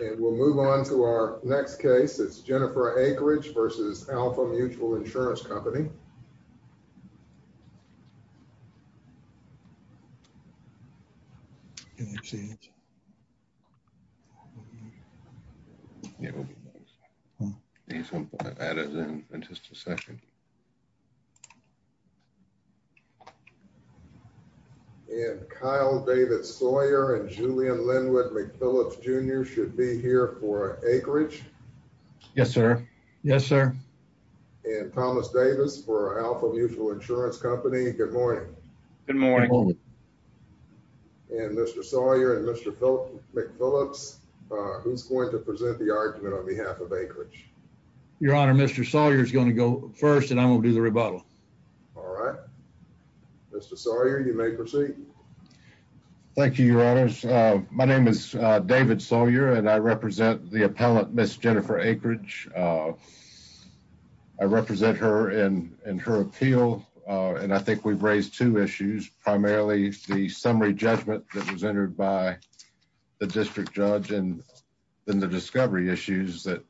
And we'll move on to our next case. It's Jennifer Akridge v. Alfa Mutual Insurance Company. And Kyle David Sawyer and Julian Linwood McPhillips Jr. should be here for Akridge. Yes sir. Yes sir. And Thomas Davis for Alfa Mutual Insurance Company. Good morning. Good morning. And Mr. Sawyer and Mr. McPhillips, who's going to present the argument on behalf of Akridge? Your Honor, Mr. Sawyer is going to go first and I'm going to do the rebuttal. All right. Mr. Sawyer, you may proceed. Thank you, Your Honors. My name is David Sawyer and I represent the appellant, Miss Jennifer Akridge. I represent her and her appeal, and I think we've raised two issues, primarily the summary judgment that was entered by the district judge and then the discovery issues that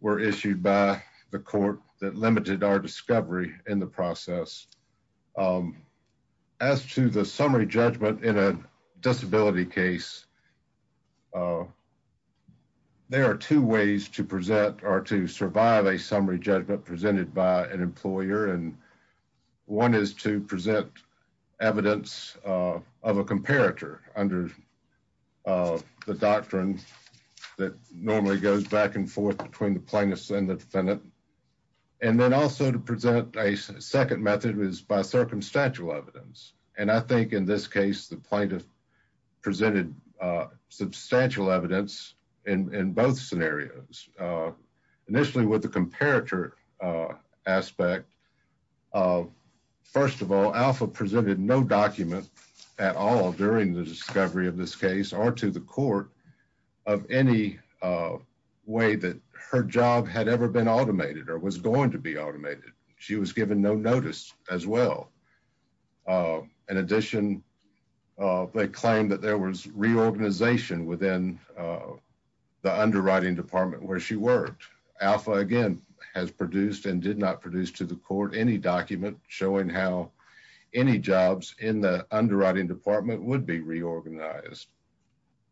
were issued by the court that limited our discovery in the process. As to the summary judgment in a disability case, there are two ways to present or to survive a summary judgment presented by an employer. And one is to present evidence of a comparator under the doctrine that normally goes back and forth between the plaintiffs and the defendant. And then also to present a second method is by circumstantial evidence. And I think in this case, the plaintiff presented substantial evidence in both scenarios. Initially with the comparator aspect, first of all, Alpha presented no document at all during the discovery of this case or to the court of any way that her job had ever been automated or was going to be automated. She was given no notice as well. In addition, they claimed that there was reorganization within the underwriting department where she worked. Alpha, again, has produced and did not produce to the court any document showing how any jobs in the underwriting department would be reorganized.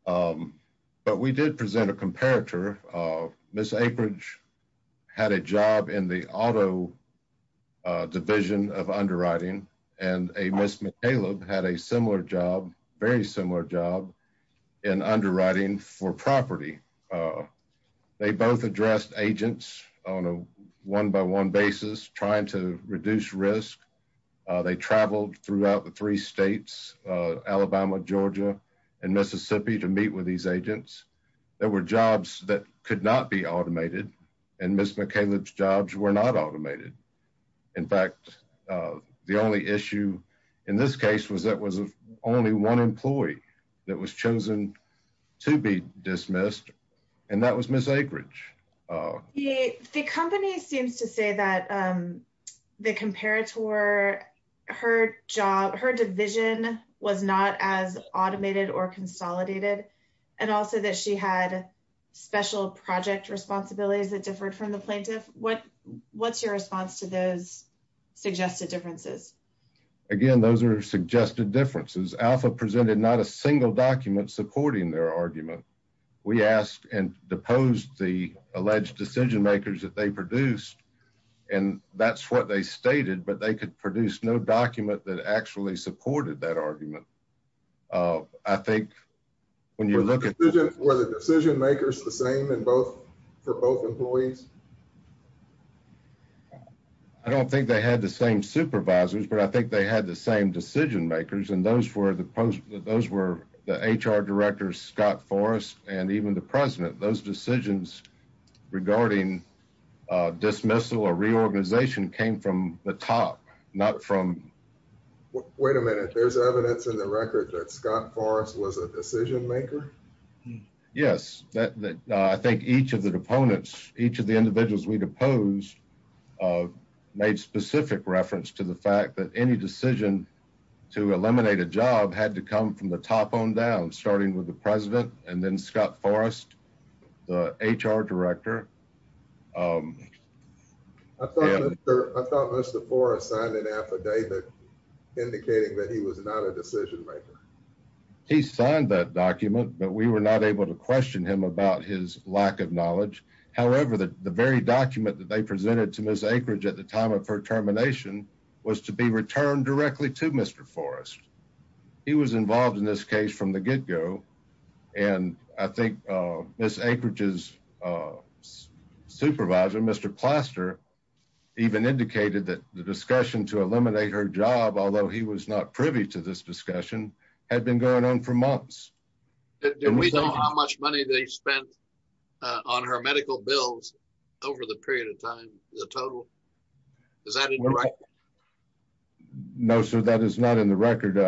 But we did present a comparator. Ms. Aperidge had a job in the auto division of underwriting and Ms. McCaleb had a similar job, very similar job, in underwriting for property. They both addressed agents on a one-by-one basis trying to reduce risk. They traveled throughout the three states, Alabama, Georgia, and Mississippi to meet with these agents. There were jobs that could not be automated and Ms. McCaleb's jobs were not automated. In fact, the only issue in this case was that there was only one employee that was chosen to be dismissed and that was Ms. Aperidge. The company seems to say that the comparator, her job, her division was not as automated or consolidated, and also that she had special project responsibilities that differed from the plaintiff. What's your response to those suggested differences? Again, those are suggested differences. Alpha presented not a single document supporting their argument. We asked and deposed the alleged decision-makers that they produced, and that's what they stated, but they could produce no document that actually supported that argument. I think when you look at... Were the decision-makers the same for both employees? I don't think they had the same supervisors, but I think they had the same decision-makers, and those were the HR directors, Scott Forrest, and even the president. Those decisions regarding dismissal or reorganization came from the top, not from... Wait a minute. There's evidence in the record that Scott Forrest was a decision-maker? Yes. I think each of the deponents, each of the individuals we deposed, made specific reference to the fact that any decision to eliminate a job had to come from the top on down, starting with the president and then Scott Forrest, the HR director. I thought Mr. Forrest signed an affidavit indicating that he was not a decision-maker. He signed that document, but we were not able to question him about his lack of knowledge. However, the very document that they presented to Ms. Akeridge at the time of her termination was to be returned directly to Mr. Forrest. He was involved in this case from the get-go, and I think Ms. Akeridge's supervisor, Mr. Plaster, even indicated that the discussion to eliminate her job, although he was not privy to this discussion, had been going on for months. Do we know how much money they spent on her medical bills over the period of time, the total? Is that in the record? No, sir, that is not in the record.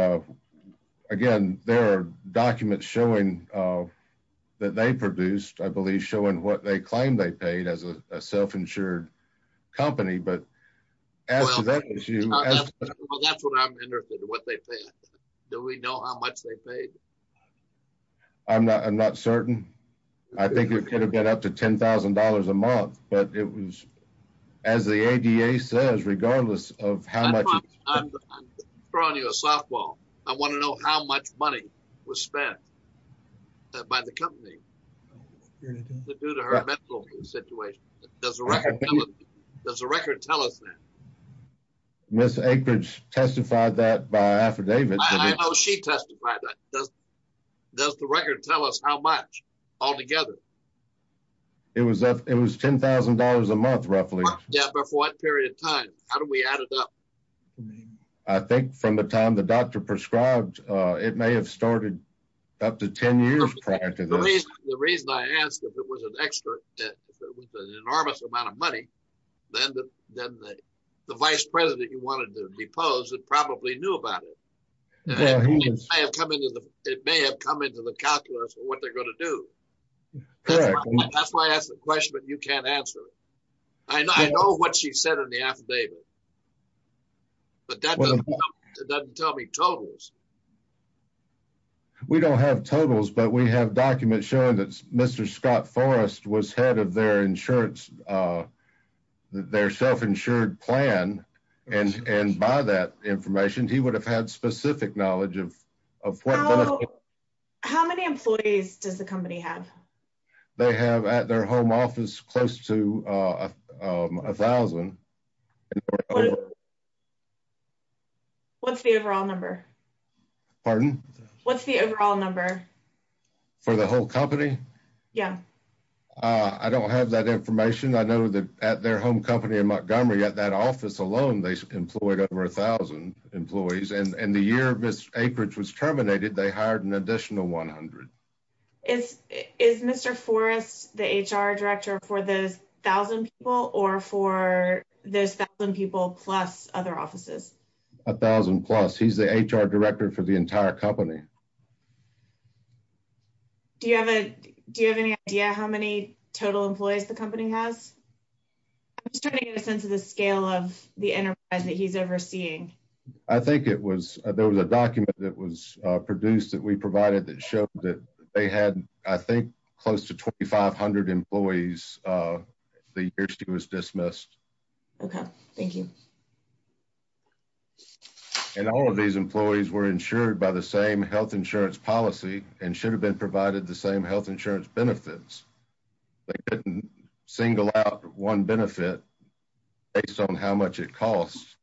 Again, there are documents showing that they produced, I believe, showing what they claimed they paid as a self-insured company, but as to that issue— Well, that's what I'm interested in, what they paid. Do we know how much they paid? I'm not certain. I think it could have been up to $10,000 a month, but it was, as the ADA says, regardless of how much— I'm throwing you a softball. I want to know how much money was spent by the company due to her medical situation. Does the record tell us that? Ms. Akeridge testified that by affidavit. I know she testified that. Does the record tell us how much altogether? It was $10,000 a month, roughly. Yeah, but for what period of time? How do we add it up? I think from the time the doctor prescribed, it may have started up to 10 years prior to this. The reason I asked if it was an enormous amount of money, then the vice president you wanted to depose probably knew about it. It may have come into the calculus of what they're going to do. That's why I asked the question, but you can't answer it. I know what she said in the affidavit, but that doesn't tell me totals. We don't have totals, but we have documents showing that Mr. Scott Forrest was head of their self-insured plan, and by that information, he would have had specific knowledge of what— How many employees does the company have? They have at their home office close to 1,000. What's the overall number? Pardon? What's the overall number? For the whole company? Yeah. I don't have that information. I know that at their home company in Montgomery, at that office alone, they employed over 1,000 employees. And the year Mr. Akridge was terminated, they hired an additional 100. Is Mr. Forrest the HR director for those 1,000 people or for those 1,000 people plus other offices? 1,000 plus. He's the HR director for the entire company. Do you have any idea how many total employees the company has? I'm just trying to get a sense of the scale of the enterprise that he's overseeing. I think there was a document that was produced that we provided that showed that they had, I think, close to 2,500 employees the year she was dismissed. Okay. Thank you. And all of these employees were insured by the same health insurance policy and should have been provided the same health insurance benefits. They didn't single out one benefit based on how much it costs.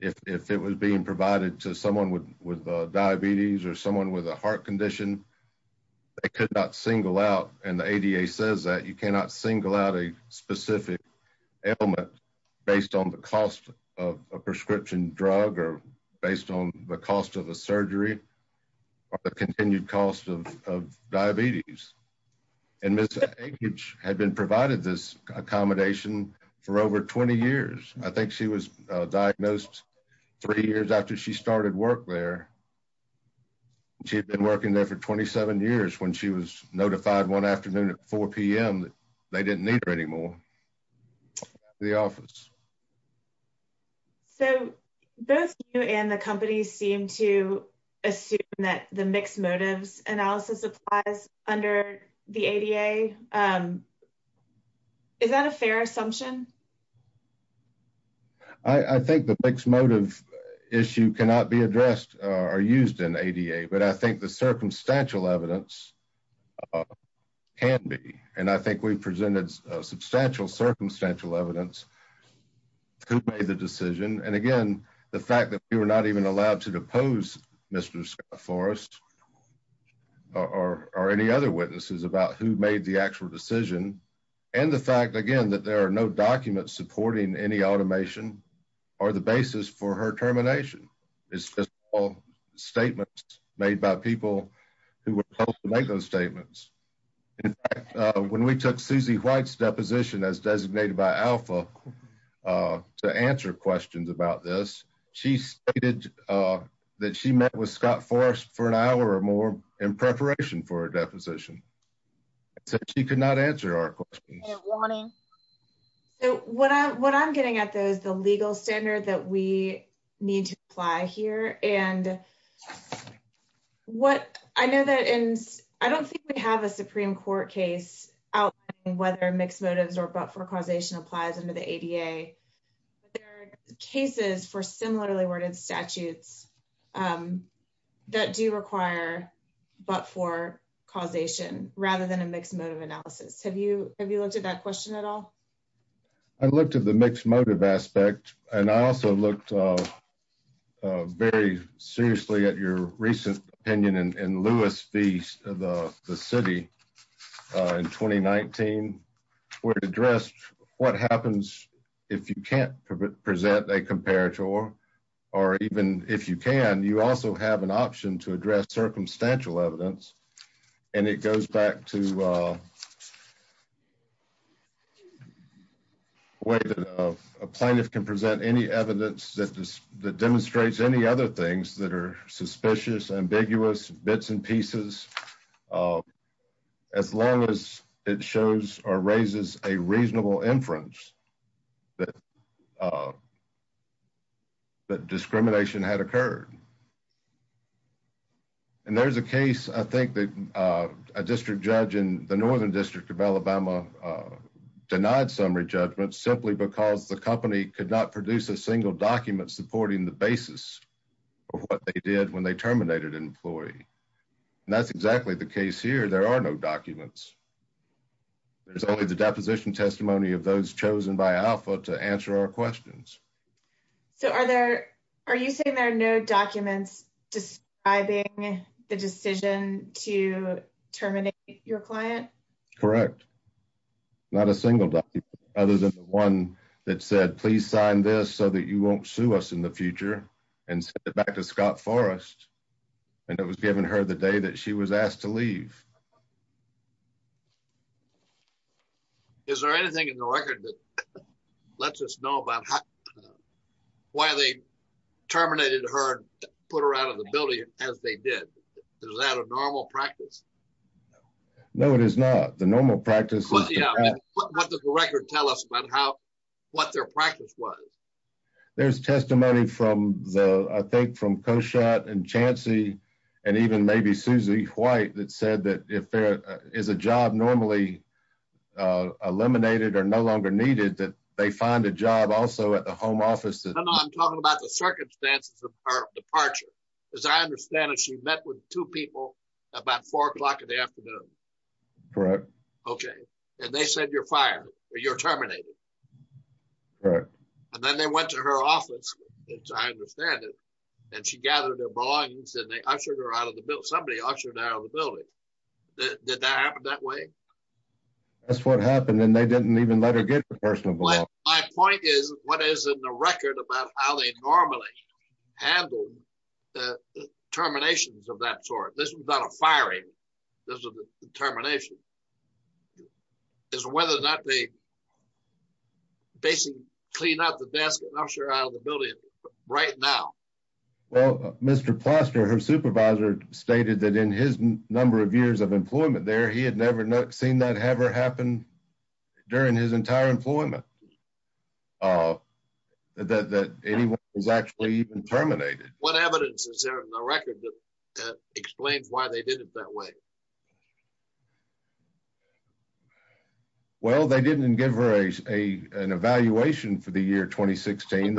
If it was being provided to someone with diabetes or someone with a heart condition, they could not single out, and the ADA says that you cannot single out a specific element based on the cost of a prescription drug or based on the cost of a surgery or the continued cost of diabetes. And Ms. Akridge had been provided this accommodation for over 20 years. I think she was diagnosed three years after she started work there. She had been working there for 27 years when she was notified one afternoon at 4 p.m. that they didn't need her anymore. The office. So both you and the company seem to assume that the mixed motives analysis applies under the ADA. Is that a fair assumption? I think the mixed motive issue cannot be addressed or used in ADA, but I think the circumstantial evidence can be. And I think we've presented substantial circumstantial evidence to make the decision. And, again, the fact that we were not even allowed to depose Mr. Forrest or any other witnesses about who made the actual decision, and the fact, again, that there are no documents supporting any automation are the basis for her termination. It's just all statements made by people who were supposed to make those statements. When we took Susie White's deposition as designated by Alpha to answer questions about this, she stated that she met with Scott Forrest for an hour or more in preparation for a deposition. So she could not answer our questions. So what I'm getting at though is the legal standard that we need to apply here and what I know that, and I don't think we have a Supreme court case out whether mixed motives or but for causation applies under the ADA. But there are cases for similarly worded statutes that do require, but for causation, rather than a mixed motive analysis. Have you, have you looked at that question at all? I looked at the mixed motive aspect and I also looked very seriously at your recent opinion in Lewis feast, the city in 2019, where it addressed what happens if you can't present a comparator or even if you can, you also have an option to address circumstantial evidence and it goes back to way that a plaintiff can present any evidence that demonstrates any other things that are suspicious, ambiguous bits and pieces. As long as it shows or raises a reasonable inference that that discrimination had occurred. And there's a case, I think that a district judge in the Northern district of Alabama denied summary judgment simply because the company could not produce a single document supporting the basis of what they did when they terminated an employee. And that's exactly the case here. There are no documents. There's only the deposition testimony of those chosen by alpha to answer our questions. So are there, are you saying there are no documents describing the decision to terminate your client? Correct. Not a single document other than the one that said, please sign this so that you won't sue us in the future and send it back to Scott Forrest. And it was given her the day that she was asked to leave. Is there anything in the record that lets us know about why they terminated her and put her out of the building as they did? Is that a normal practice? No, it is not the normal practice. What does the record tell us about how, what their practice was? There's testimony from the, I think from Koshat and Chancey and even maybe Susie White that said that if there is a job normally eliminated or no longer needed that they find a job also at the home office. I'm talking about the circumstances of departure. As I understand it, she met with two people about four o'clock in the afternoon. Correct. Okay. And they said you're fired or you're terminated. Correct. And then they went to her office, as I understand it, and she gathered their belongings and they ushered her out of the building. Somebody ushered her out of the building. Did that happen that way? That's what happened. And they didn't even let her get to the personal belongings. My point is, what is in the record about how they normally handled the terminations of that sort? This was not a firing. This was a termination. It's whether or not they basically clean out the desk and usher her out of the building right now. Well, Mr. Plaster, her supervisor stated that in his number of years of employment there, he had never seen that ever happen during his entire employment, that anyone was actually terminated. What evidence is there in the record that explains why they did it that way? Well, they didn't give her a, an evaluation for the year 2016.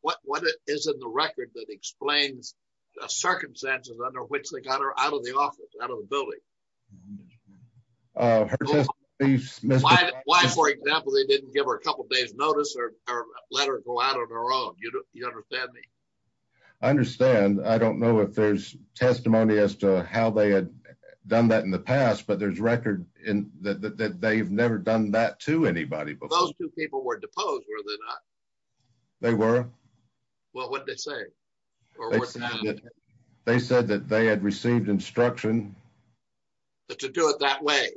What is in the record that explains the circumstances under which they got her out of the office, out of the building? Why, for example, they didn't give her a couple of days notice or let her go out on her own. You understand me? I understand. I don't know if there's testimony as to how they had done that in the past, but there's record in that they've never done that to anybody before. Those two people were deposed, were they not? They were. What would they say? They said that they had received instruction. To do it that way.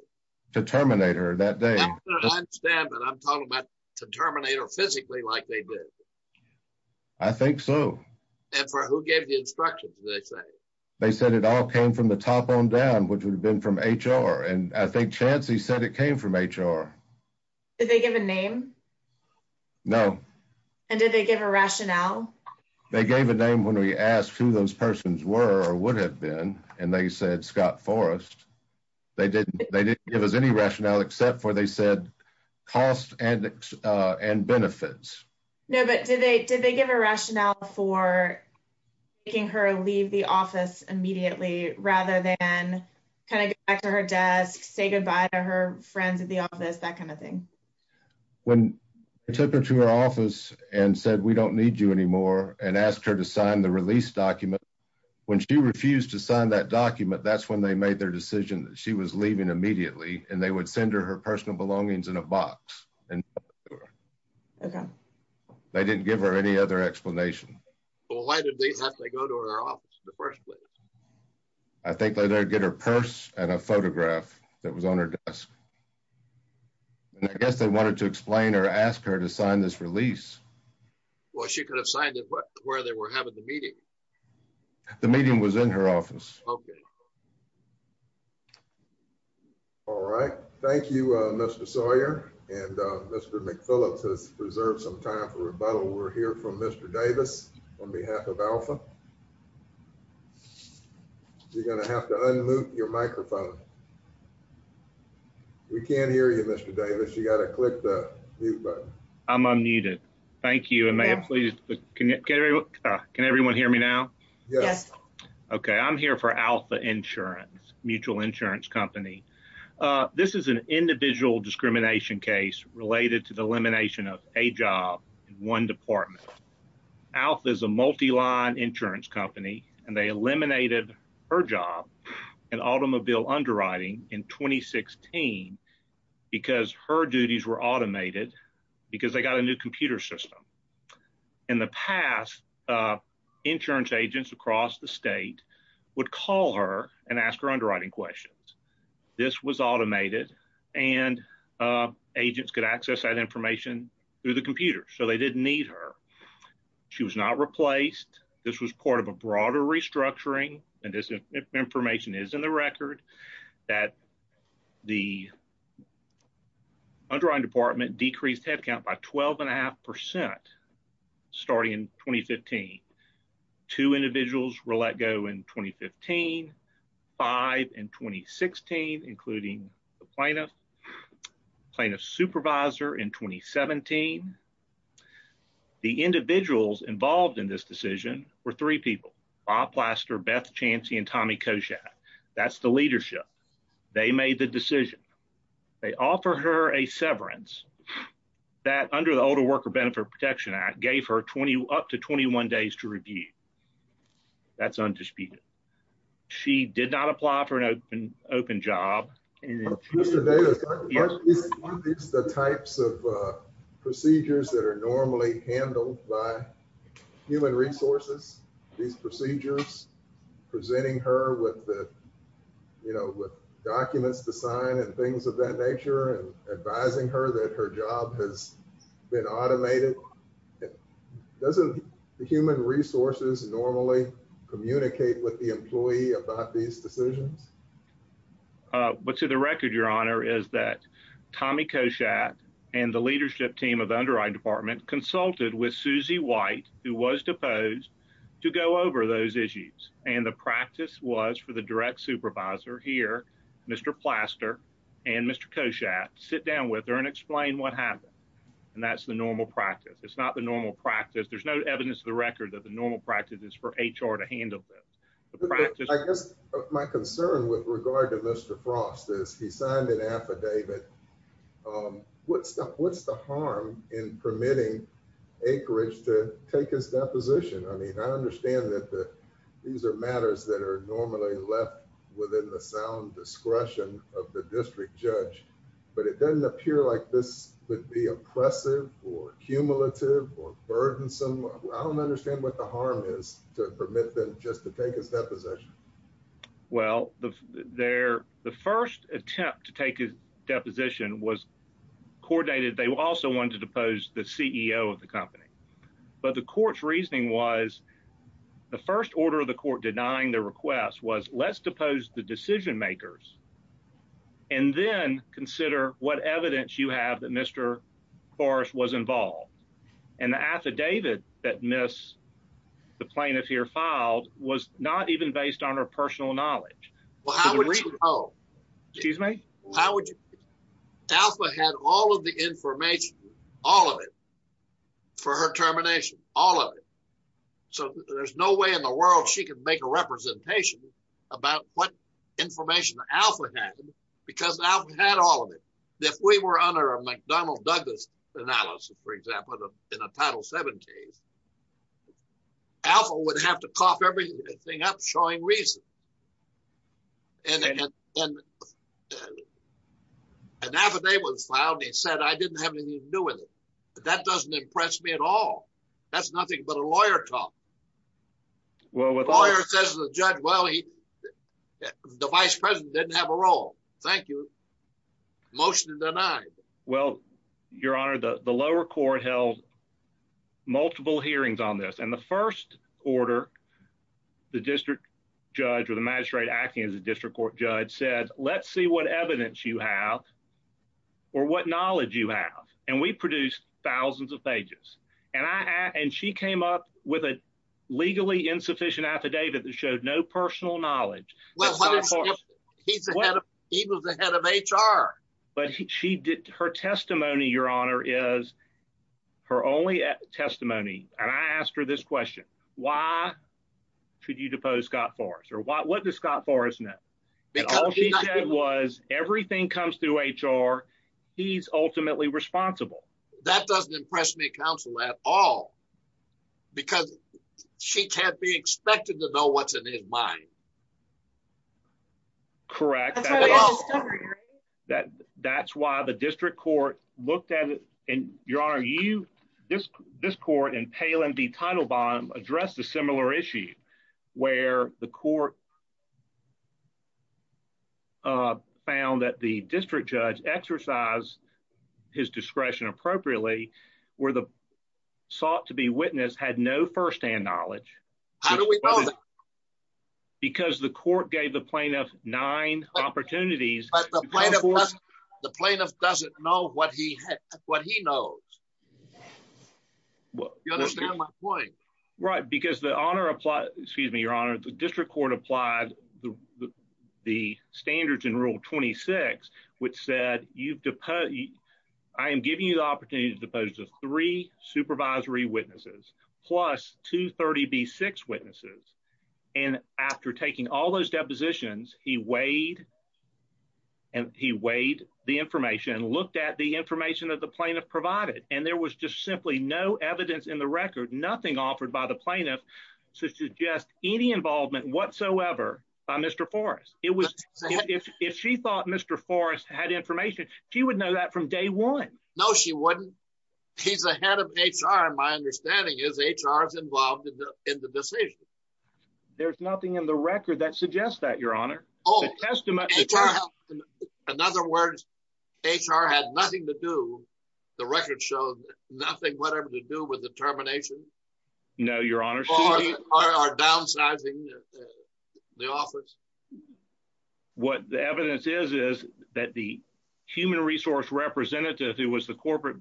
To terminate her that day. I understand, but I'm talking about to terminate her physically like they did. I think so. And for who gave the instructions, did they say? They said it all came from the top on down, which would have been from HR. And I think Chancey said it came from HR. Did they give a name? No. And did they give a rationale? They gave a name when we asked who those persons were or would have been. And they said, Scott Forrest. They didn't, they didn't give us any rationale except for, they said cost and, and benefits. No, but did they, did they give a rationale for. Making her leave the office immediately rather than. Kind of go back to her desk, say goodbye to her friends at the office, that kind of thing. When. I took her to her office and said, we don't need you anymore and asked her to sign the release document. When she refused to sign that document, that's when they made their decision that she was leaving immediately and they would send her her personal belongings in a box and. Okay. They didn't give her any other explanation. Why did they have to go to her office in the first place? I think that they'd get her purse and a photograph that was on her desk. And I guess they wanted to explain or ask her to sign this release. Well, she could have signed it, but where they were having the meeting, the meeting was in her office. Okay. All right. Thank you, Mr. Sawyer and Mr. McPhillips has preserved some time for rebuttal. We're here from Mr. Davis on behalf of alpha. You're going to have to unmute your microphone. We can't hear you, Mr. Davis. You got to click the mute button. I'm unmuted. Thank you. And may I please. Can everyone hear me now? Yes. Okay. I'm here for alpha insurance, mutual insurance company. This is an individual discrimination case related to the elimination of a job. One department. Alpha is a multi-line insurance company and they eliminated her job and automobile underwriting in 2016, because her duties were automated because they got a new computer system and the past insurance agents across the state would call her and ask her underwriting questions. This was automated and agents could access that information through the computer. So they didn't need her. She was not replaced. This was part of a broader restructuring and this information is in the record that the underwriting department decreased headcount by 12 and a half percent starting in 2015. Two individuals were let go in 2015, five in 2016, including the plaintiff plaintiff supervisor in 2017. The individuals involved in this decision were three people, Bob plaster, Beth Chancy, and Tommy Koshak. That's the leadership. They made the decision. They offer her a severance that under the older worker benefit protection act gave her 20 up to 21 days to review. That's undisputed. She did not apply for an open, open job. Mr. Davis, the types of procedures that are normally handled by human resources, these procedures presenting her with the, you know, with documents to sign and things of that nature and advising her that her job has been automated. Doesn't the human resources normally communicate with the employee about these decisions? But to the record, your honor is that Tommy Koshak and the leadership team of the underwriting department consulted with Susie white, who was deposed to go over those issues. And the practice was for the direct supervisor here, Mr. Plaster and Mr. Koshak sit down with her and explain what happened. And that's the normal practice. It's not the normal practice. There's no evidence of the record that the normal practice is for HR to handle this. I guess my concern with regard to Mr. Frost is he signed an affidavit. What's the, what's the harm in permitting acreage to take his deposition? I mean, I understand that the, these are matters that are normally left within the sound discretion of the district judge, but it doesn't appear like this would be oppressive or cumulative or burdensome. I don't understand what the harm is to permit them just to take his deposition. Well, the there, the first attempt to take a deposition was coordinated. They also wanted to depose the CEO of the company, but the court's reasoning was the first order of the court denying the request was let's depose the decision makers. And then consider what evidence you have that Mr. Forrest was involved. And the affidavit that Miss, the plaintiff here filed was not even based on her personal knowledge. Well, how would she know? Excuse me? How would you, Alpha had all of the information, all of it for her termination, all of it. So there's no way in the world she could make a representation about what information Alpha had because Alpha had all of it. If we were under a McDonald Douglas analysis, for example, in a title seven case, Alpha would have to cough everything up showing reason. An affidavit was filed and he said, I didn't have anything to do with it, but that doesn't impress me at all. That's nothing but a lawyer talk. Well, the lawyer says to the judge, well, the vice president didn't have a role. Thank you. Motion denied. Well, your honor, the lower court held multiple hearings on this. And the first order, the district judge or the magistrate acting as a district court judge said, let's see what evidence you have or what knowledge you have. And we produced thousands of pages and I, and she came up with a legally insufficient affidavit that showed no personal knowledge. Well, he was the head of HR, but she did her testimony. Your honor is her only testimony. And I asked her this question, why should you depose Scott Forrest or what, what does Scott Forrest know? And all she said was everything comes through HR. He's ultimately responsible. That doesn't impress me counsel at all because she can't be expected to know what's in his mind. Correct. That that's why the district court looked at it and your honor, you, this, this court and pale and the title bond addressed a similar issue where the court found that the district judge exercise his discretion appropriately where the sought to be witnessed had no firsthand knowledge. How do we know that? Because the court gave the plaintiff nine opportunities. The plaintiff doesn't know what he had, what he knows. You understand my point? Right. Because the honor apply, excuse me, your honor, the district court applied the, the standards in rule 26, which said you've deposed, I am giving you the opportunity to depose the three supervisory witnesses plus two 30 B six witnesses. And after taking all those depositions, he weighed and he weighed the information and looked at the information that the plaintiff provided. And there was just simply no evidence in the record, nothing offered by the plaintiff to suggest any involvement whatsoever by Mr. Forrest. It was, if she thought Mr. Forrest had information, she would know that from day one. No, she wouldn't. He's a head of HR. My understanding is HR is involved in the, in the decision. There's nothing in the record that suggests that your honor. Oh, in other words, HR had nothing to do. The record shows nothing, whatever to do with the termination. No, your honor are downsizing the office. What the evidence is is that the human resource representative who was the corporate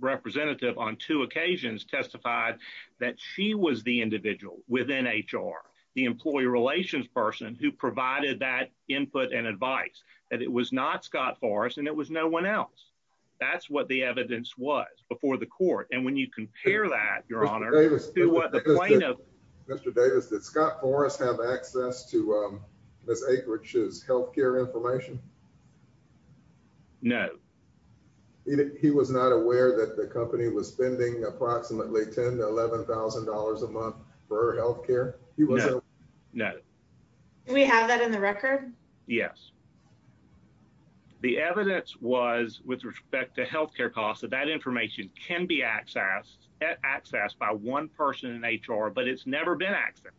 representative on two occasions testified that she was the individual within HR, the employee relations person who provided that input and advice that it was not Scott Forrest. And it was no one else. That's what the evidence was before the court. And when you compare that, your honor, Mr. Davis, that Scott Forrest have access to, um, this acreage is healthcare information. No, he was not aware that the company was spending approximately 10 to $11,000 a month for healthcare. No, no, we have that in the record. Yes. The evidence was with respect to healthcare costs that that information can be accessed at access by one person in HR, but it's never been access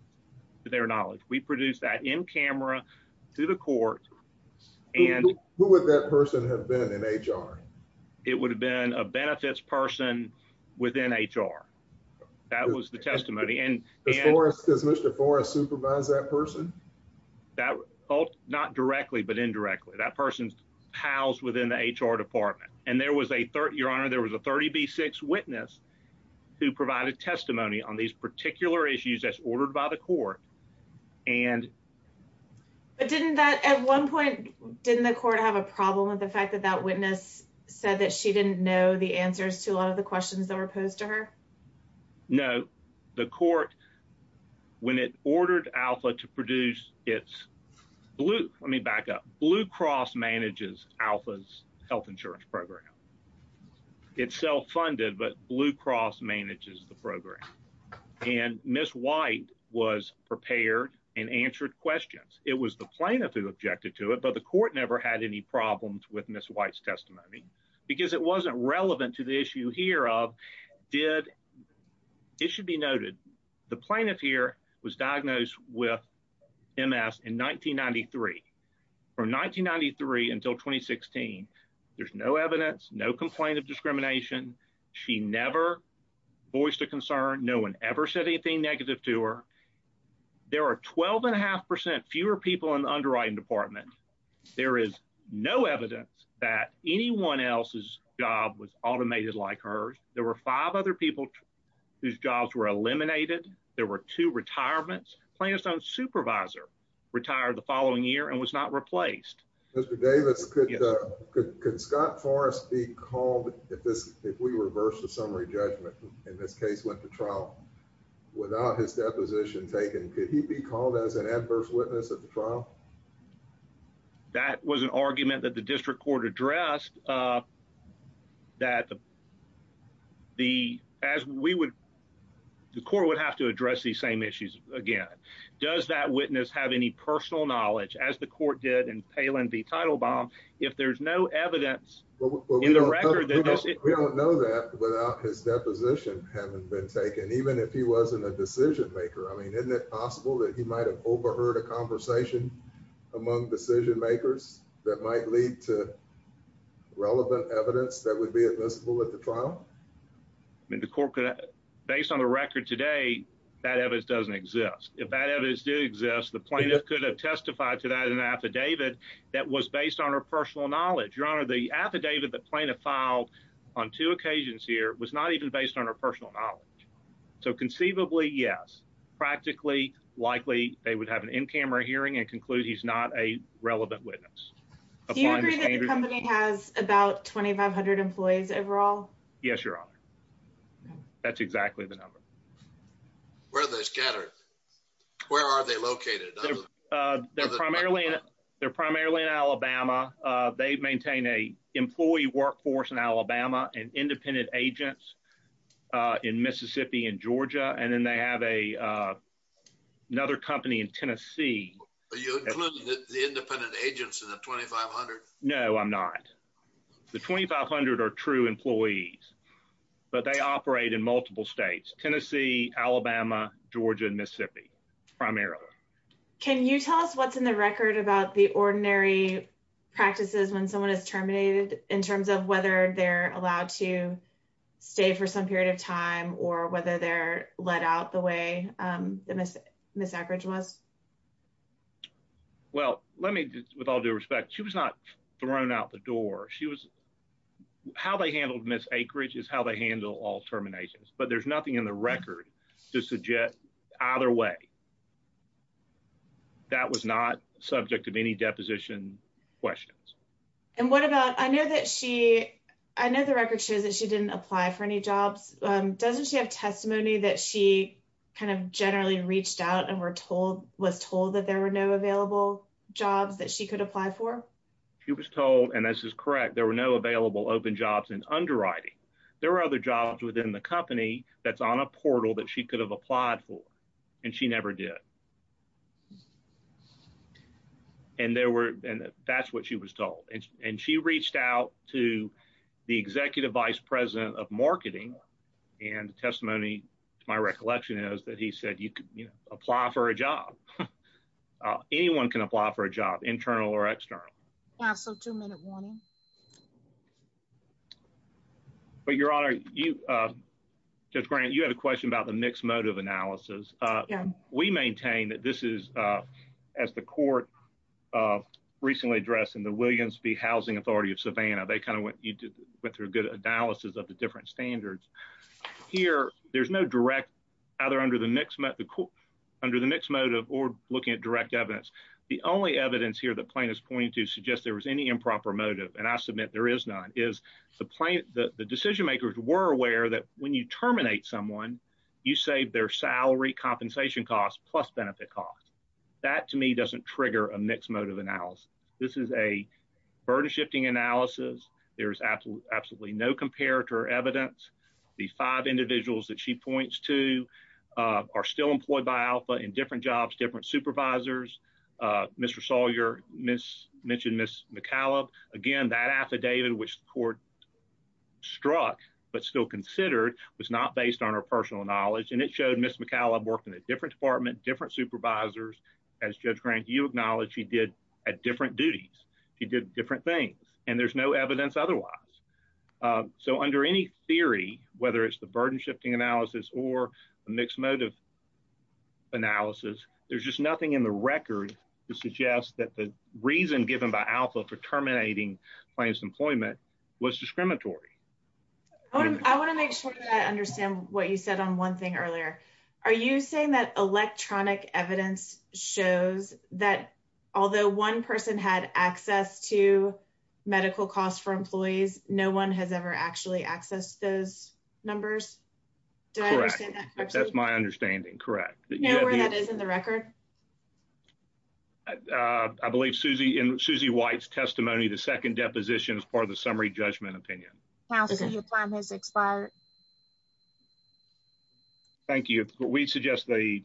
to their knowledge. We produce that in camera to the court. And who would that person have been in HR? It would have been a benefits person within HR. That was the testimony. And as far as Mr. Forrest supervise that person, that not directly, but indirectly that person's house within the HR department. And there was a third, your honor, there was a 30 B six witness who provided testimony on these particular issues as ordered by the court. And. I don't know the answer to that question. But didn't that at one point, didn't the court have a problem with the fact that that witness said that she didn't know the answers to a lot of the questions that were posed to her? No. The court. When it ordered alpha to produce. It's. Blue. Let me back up blue cross manages alphas health insurance program. It's self-funded, but blue cross manages the program. And Ms. White was prepared and answered questions. It was the plaintiff who objected to it, but the court never had any problems with Ms. White's testimony because it wasn't relevant to the issue here of did. It should be noted. The plaintiff here was diagnosed with MS in 1993. Or 1993 until 2016. There's no evidence, no complaint of discrimination. She never. Voiced a concern. No one ever said anything negative to her. There are 12 and a half percent fewer people in the underwriting department. There is no evidence that anyone else's job was automated. Like hers. There were five other people. Whose jobs were eliminated. There were two retirements, plaintiff's own supervisor retired the following year and was not replaced. Mr. Davis. Could Scott Forrest be called? If this, if we reverse the summary judgment in this case, went to trial without his deposition taken, could he be called as an adverse witness at the trial? That was an argument that the district court addressed. That. The, as we would. The court would have to address these same issues again. Does that witness have any personal knowledge as the court did and if so, I mean, if there's no evidence in the record, we don't know that without his deposition haven't been taken, even if he wasn't a decision maker. I mean, isn't it possible that he might've overheard a conversation. Among decision makers that might lead to. Relevant evidence that would be admissible at the trial. I mean, the corporate. Based on the record today. That evidence doesn't exist. If that evidence did exist, the plaintiff could have testified to that in the affidavit that was based on her personal knowledge, your honor, the affidavit that plaintiff filed on two occasions here was not even based on her personal knowledge. So conceivably, yes. Practically likely they would have an in-camera hearing and conclude. He's not a relevant witness. The company has about 2,500 employees overall. Yes, your honor. That's exactly the number. Where are they scattered? They're primarily. They're primarily in Alabama. They maintain a employee workforce in Alabama and independent agents. In Mississippi and Georgia. And then they have a. Another company in Tennessee. The independent agents in the 2,500. No, I'm not. The 2,500 are true employees. But they operate in multiple States, Tennessee, Alabama, Georgia, and Mississippi. Primarily. And then they have an independent agent. In Alabama. Can you tell us what's in the record about the ordinary. Practices when someone is terminated in terms of whether they're allowed to. Stay for some period of time or whether they're let out the way. The miss. Miss average was. Well, let me just, with all due respect, she was not. Thrown out the door. She was. How they handled miss acreage is how they handle all terminations, but there's nothing in the record to suggest either way. That was not subject to any deposition questions. And what about, I know that she, I know the record shows that she didn't apply for any jobs. Doesn't she have testimony that she kind of generally reached out and were told, was told that there were no available jobs that she could apply for. She was told, and this is correct. There were no available open jobs in underwriting. There were other jobs within the company that's on a portal that she could have applied for. And she never did. And there were, and that's what she was told. And she reached out to the executive vice president of marketing and testimony. My recollection is that he said, you could apply for a job. Anyone can apply for a job internal or external. So two minute warning. But your honor, you judge grant, you had a question about the mixed motive analysis. We maintain that this is as the court recently addressed in the Williams V housing authority of Savannah. They kind of went, you went through a good analysis of the different standards here. There's no direct either under the mix, under the mixed motive or looking at direct evidence. The only evidence here that plane is pointing to suggest there was any improper motive. And I submit, there is none is the plan that the decision-makers were aware that when you terminate someone, you save their salary compensation costs, plus benefit costs. That to me doesn't trigger a mixed motive analysis. This is a burden shifting analysis. There's absolutely absolutely no comparator evidence. The five individuals that she points to are still employed by alpha in different jobs, different supervisors. Mr. Sawyer, miss mentioned, miss McCallum again, that affidavit, which the court struck, but still considered was not based on her personal knowledge. And it showed miss McCallum worked in a different department, different supervisors as judge grant, you acknowledge he did at different duties. He did different things and there's no evidence otherwise. So under any theory, whether it's the burden shifting analysis or a mixed motive analysis, there's just nothing in the record to suggest that the reason given by alpha for terminating plans, employment was discriminatory. I want to make sure that I understand what you said on one thing earlier. Are you saying that electronic evidence shows that although one person had access to medical costs for employees, no one has ever actually accessed those numbers. That's my understanding. Correct. Nowhere that is in the record. I believe Susie and Susie White's testimony. The second deposition is part of the summary judgment opinion. Now, since your time has expired. Thank you. We suggest the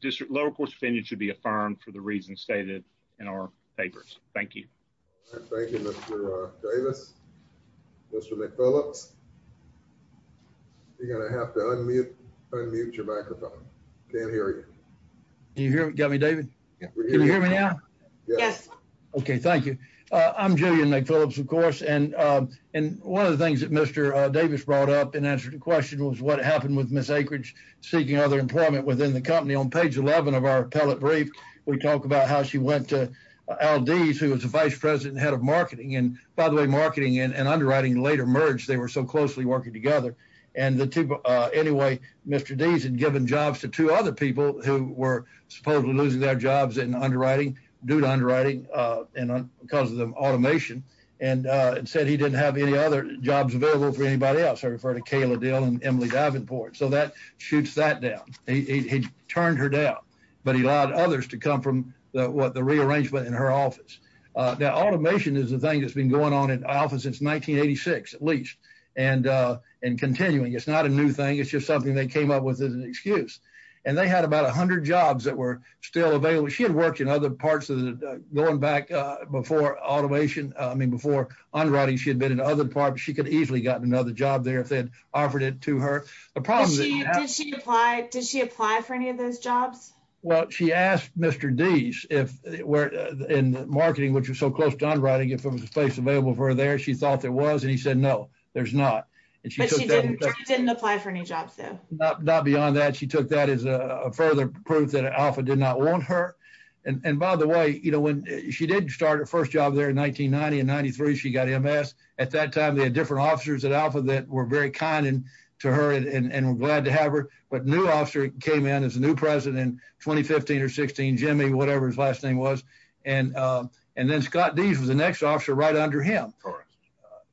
district lower court's opinion should be affirmed for the reasons stated in our papers. Thank you. Thank you, Mr. Davis. Mr. McPhillips. You're going to have to unmute unmute your microphone. I can't hear you. Can you hear me? Got me, David. Can you hear me now? Yes. Okay. Thank you. I'm Julian McPhillips, of course. And, and one of the things that Mr. Davis brought up in answer to the question was what happened with Miss acreage seeking other employment within the company on page 11 of our appellate brief. We talk about how she went to LDS, who was the vice president head of marketing and by the way, marketing and underwriting later merged. They were so closely working together and the two anyway, Mr. Davis had given jobs to two other people who were supposedly losing their jobs in underwriting due to underwriting and because of the automation and said he didn't have any other jobs available for anybody else. I refer to Kayla deal and Emily Davenport. So that shoots that down. He turned her down, but he allowed others to come from the what the rearrangement in her office. Now automation is the thing that's been going on in office since 1986, at least and and continuing. It's not a new thing. It's just something they came up with as an excuse. And they had about a hundred jobs that were still available. She had worked in other parts of the going back before automation. I mean, before I'm running, she had been in other departments. She could easily gotten another job there. If they'd offered it to her. Did she apply for any of those jobs? Well, she asked Mr. D's if we're in marketing, which was so close to on writing, if it was a space available for her there, she thought there was. And he said, no, there's not. And she didn't apply for any jobs though. Not beyond that. She took that as a further proof that alpha did not want her. And by the way, you know, when she didn't start her first job there in 1990 and 93, she got MS. At that time, they had different officers that alpha that were very kind and to her and we're glad to have her. But new officer came in as a new president in 2015 or 16, Jimmy, whatever his last name was. And, and then Scott D's was the next officer right under him.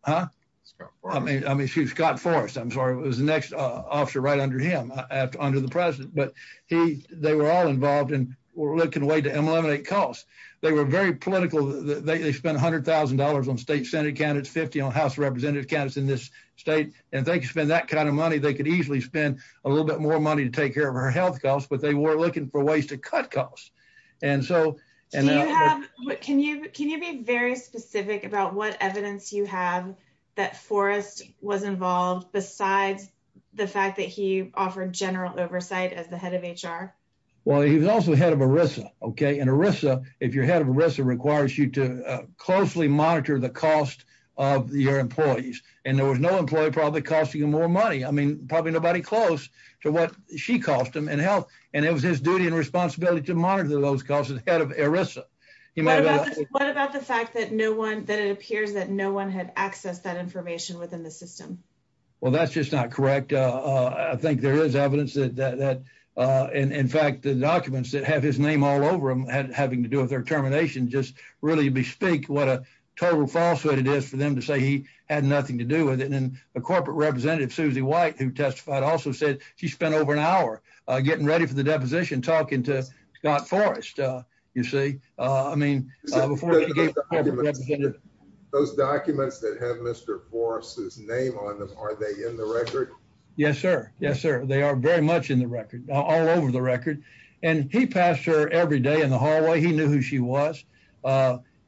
Huh? I mean, I mean, she was Scott forest. I'm sorry. It was the next officer right under him after under the president, but he, they were all involved in looking away to eliminate costs. They were very political. They spent a hundred thousand dollars on state Senate candidates, 50 on house of representative candidates in this state. And they could spend that kind of money. They could easily spend a little bit more money to take care of her health costs, but they were looking for ways to cut costs. And so. Can you, can you be very specific about what evidence you have that forest was involved besides the fact that he offered general oversight as the head of HR? Well, he was also the head of Arisa. Okay. And Arisa, if your head of Arisa requires you to closely monitor the cost of your employees, and there was no employee probably costing him more money. I mean, probably nobody close to what she calls them and health. And it was his duty and responsibility to monitor those costs as head of HR. What about the fact that no one, that it appears that no one had accessed that information within the system? Well, that's just not correct. I think there is evidence that, that, that in fact, the documents that have his name all over them had having to do with their termination, just really be speak. What a total falsehood it is for them to say he had nothing to do with it. And then a corporate representative Susie white who testified also said she spent over an hour getting ready for the deposition, talking to Scott Forrest. You see, I mean, Those documents that have Mr. Forrest's name on them. Are they in the record? Yes, sir. Yes, sir. They are very much in the record all over the record. And he passed her every day in the hallway. He knew who she was.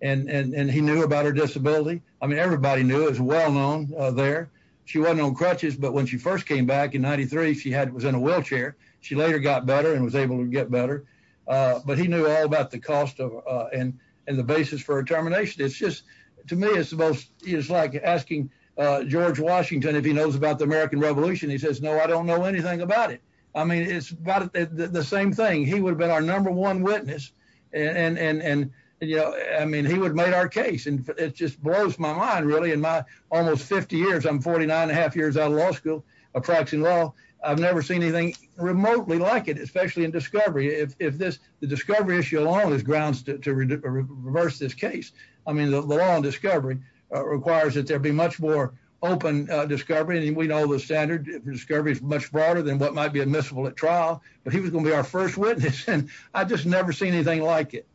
And, and, and he knew about her disability. I mean, everybody knew it was well known there. She wasn't on crutches, but when she first came back in 93, she had, it was in a wheelchair. She later got better and was able to get better. But he knew all about the cost of and, and the basis for a termination. It's just to me, it's the most, it's like asking George Washington, if he knows about the American revolution, he says, no, I don't know anything about it. I mean, it's about the same thing. He would have been our number one witness. And, and, and, and, you know, I mean, he would have made our case and it just blows my mind really. In my almost 50 years, I'm 49 and a half years out of law school, I'm practicing law. I've never seen anything remotely like it, especially in discovery. If this, the discovery issue alone is grounds to reverse this case. I mean, the law on discovery requires that there be much more open discovery. And we know the standard for discovery is much broader than what might be admissible at trial, but he was going to be our first witness. And I just never seen anything like it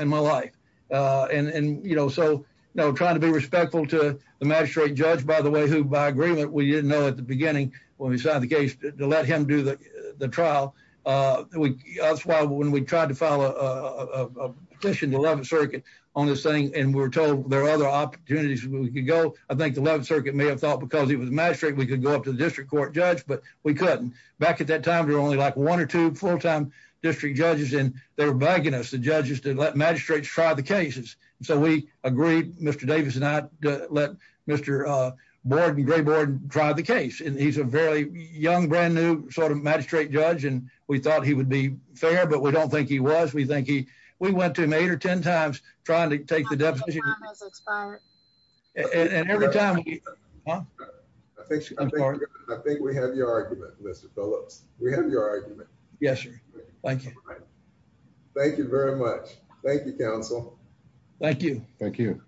in my life. And, and, you know, so no trying to be respectful to the magistrate judge, by the way, who by agreement, we didn't know at the beginning, when we signed the case to let him do the trial. That's why when we tried to file a petition to 11th circuit on this thing, and we were told there are other opportunities where we could go. I think the 11th circuit may have thought because he was a magistrate, we could go up to the district court judge, but we couldn't. Back at that time, there were only like one or two full-time district judges and they were begging us, the judges to let magistrates try the cases. So we agreed Mr. Davis and I let Mr. Borden grayboard and try the case. And he's a very young brand new sort of magistrate judge. And we thought he would be fair, but we don't think he was, we think he, we went to him eight or 10 times trying to take the deficit. And every time. I think we have your argument, Mr. Phillips. We have your argument. Yes, sir. Thank you. Thank you very much. Thank you counsel. Thank you. Thank you.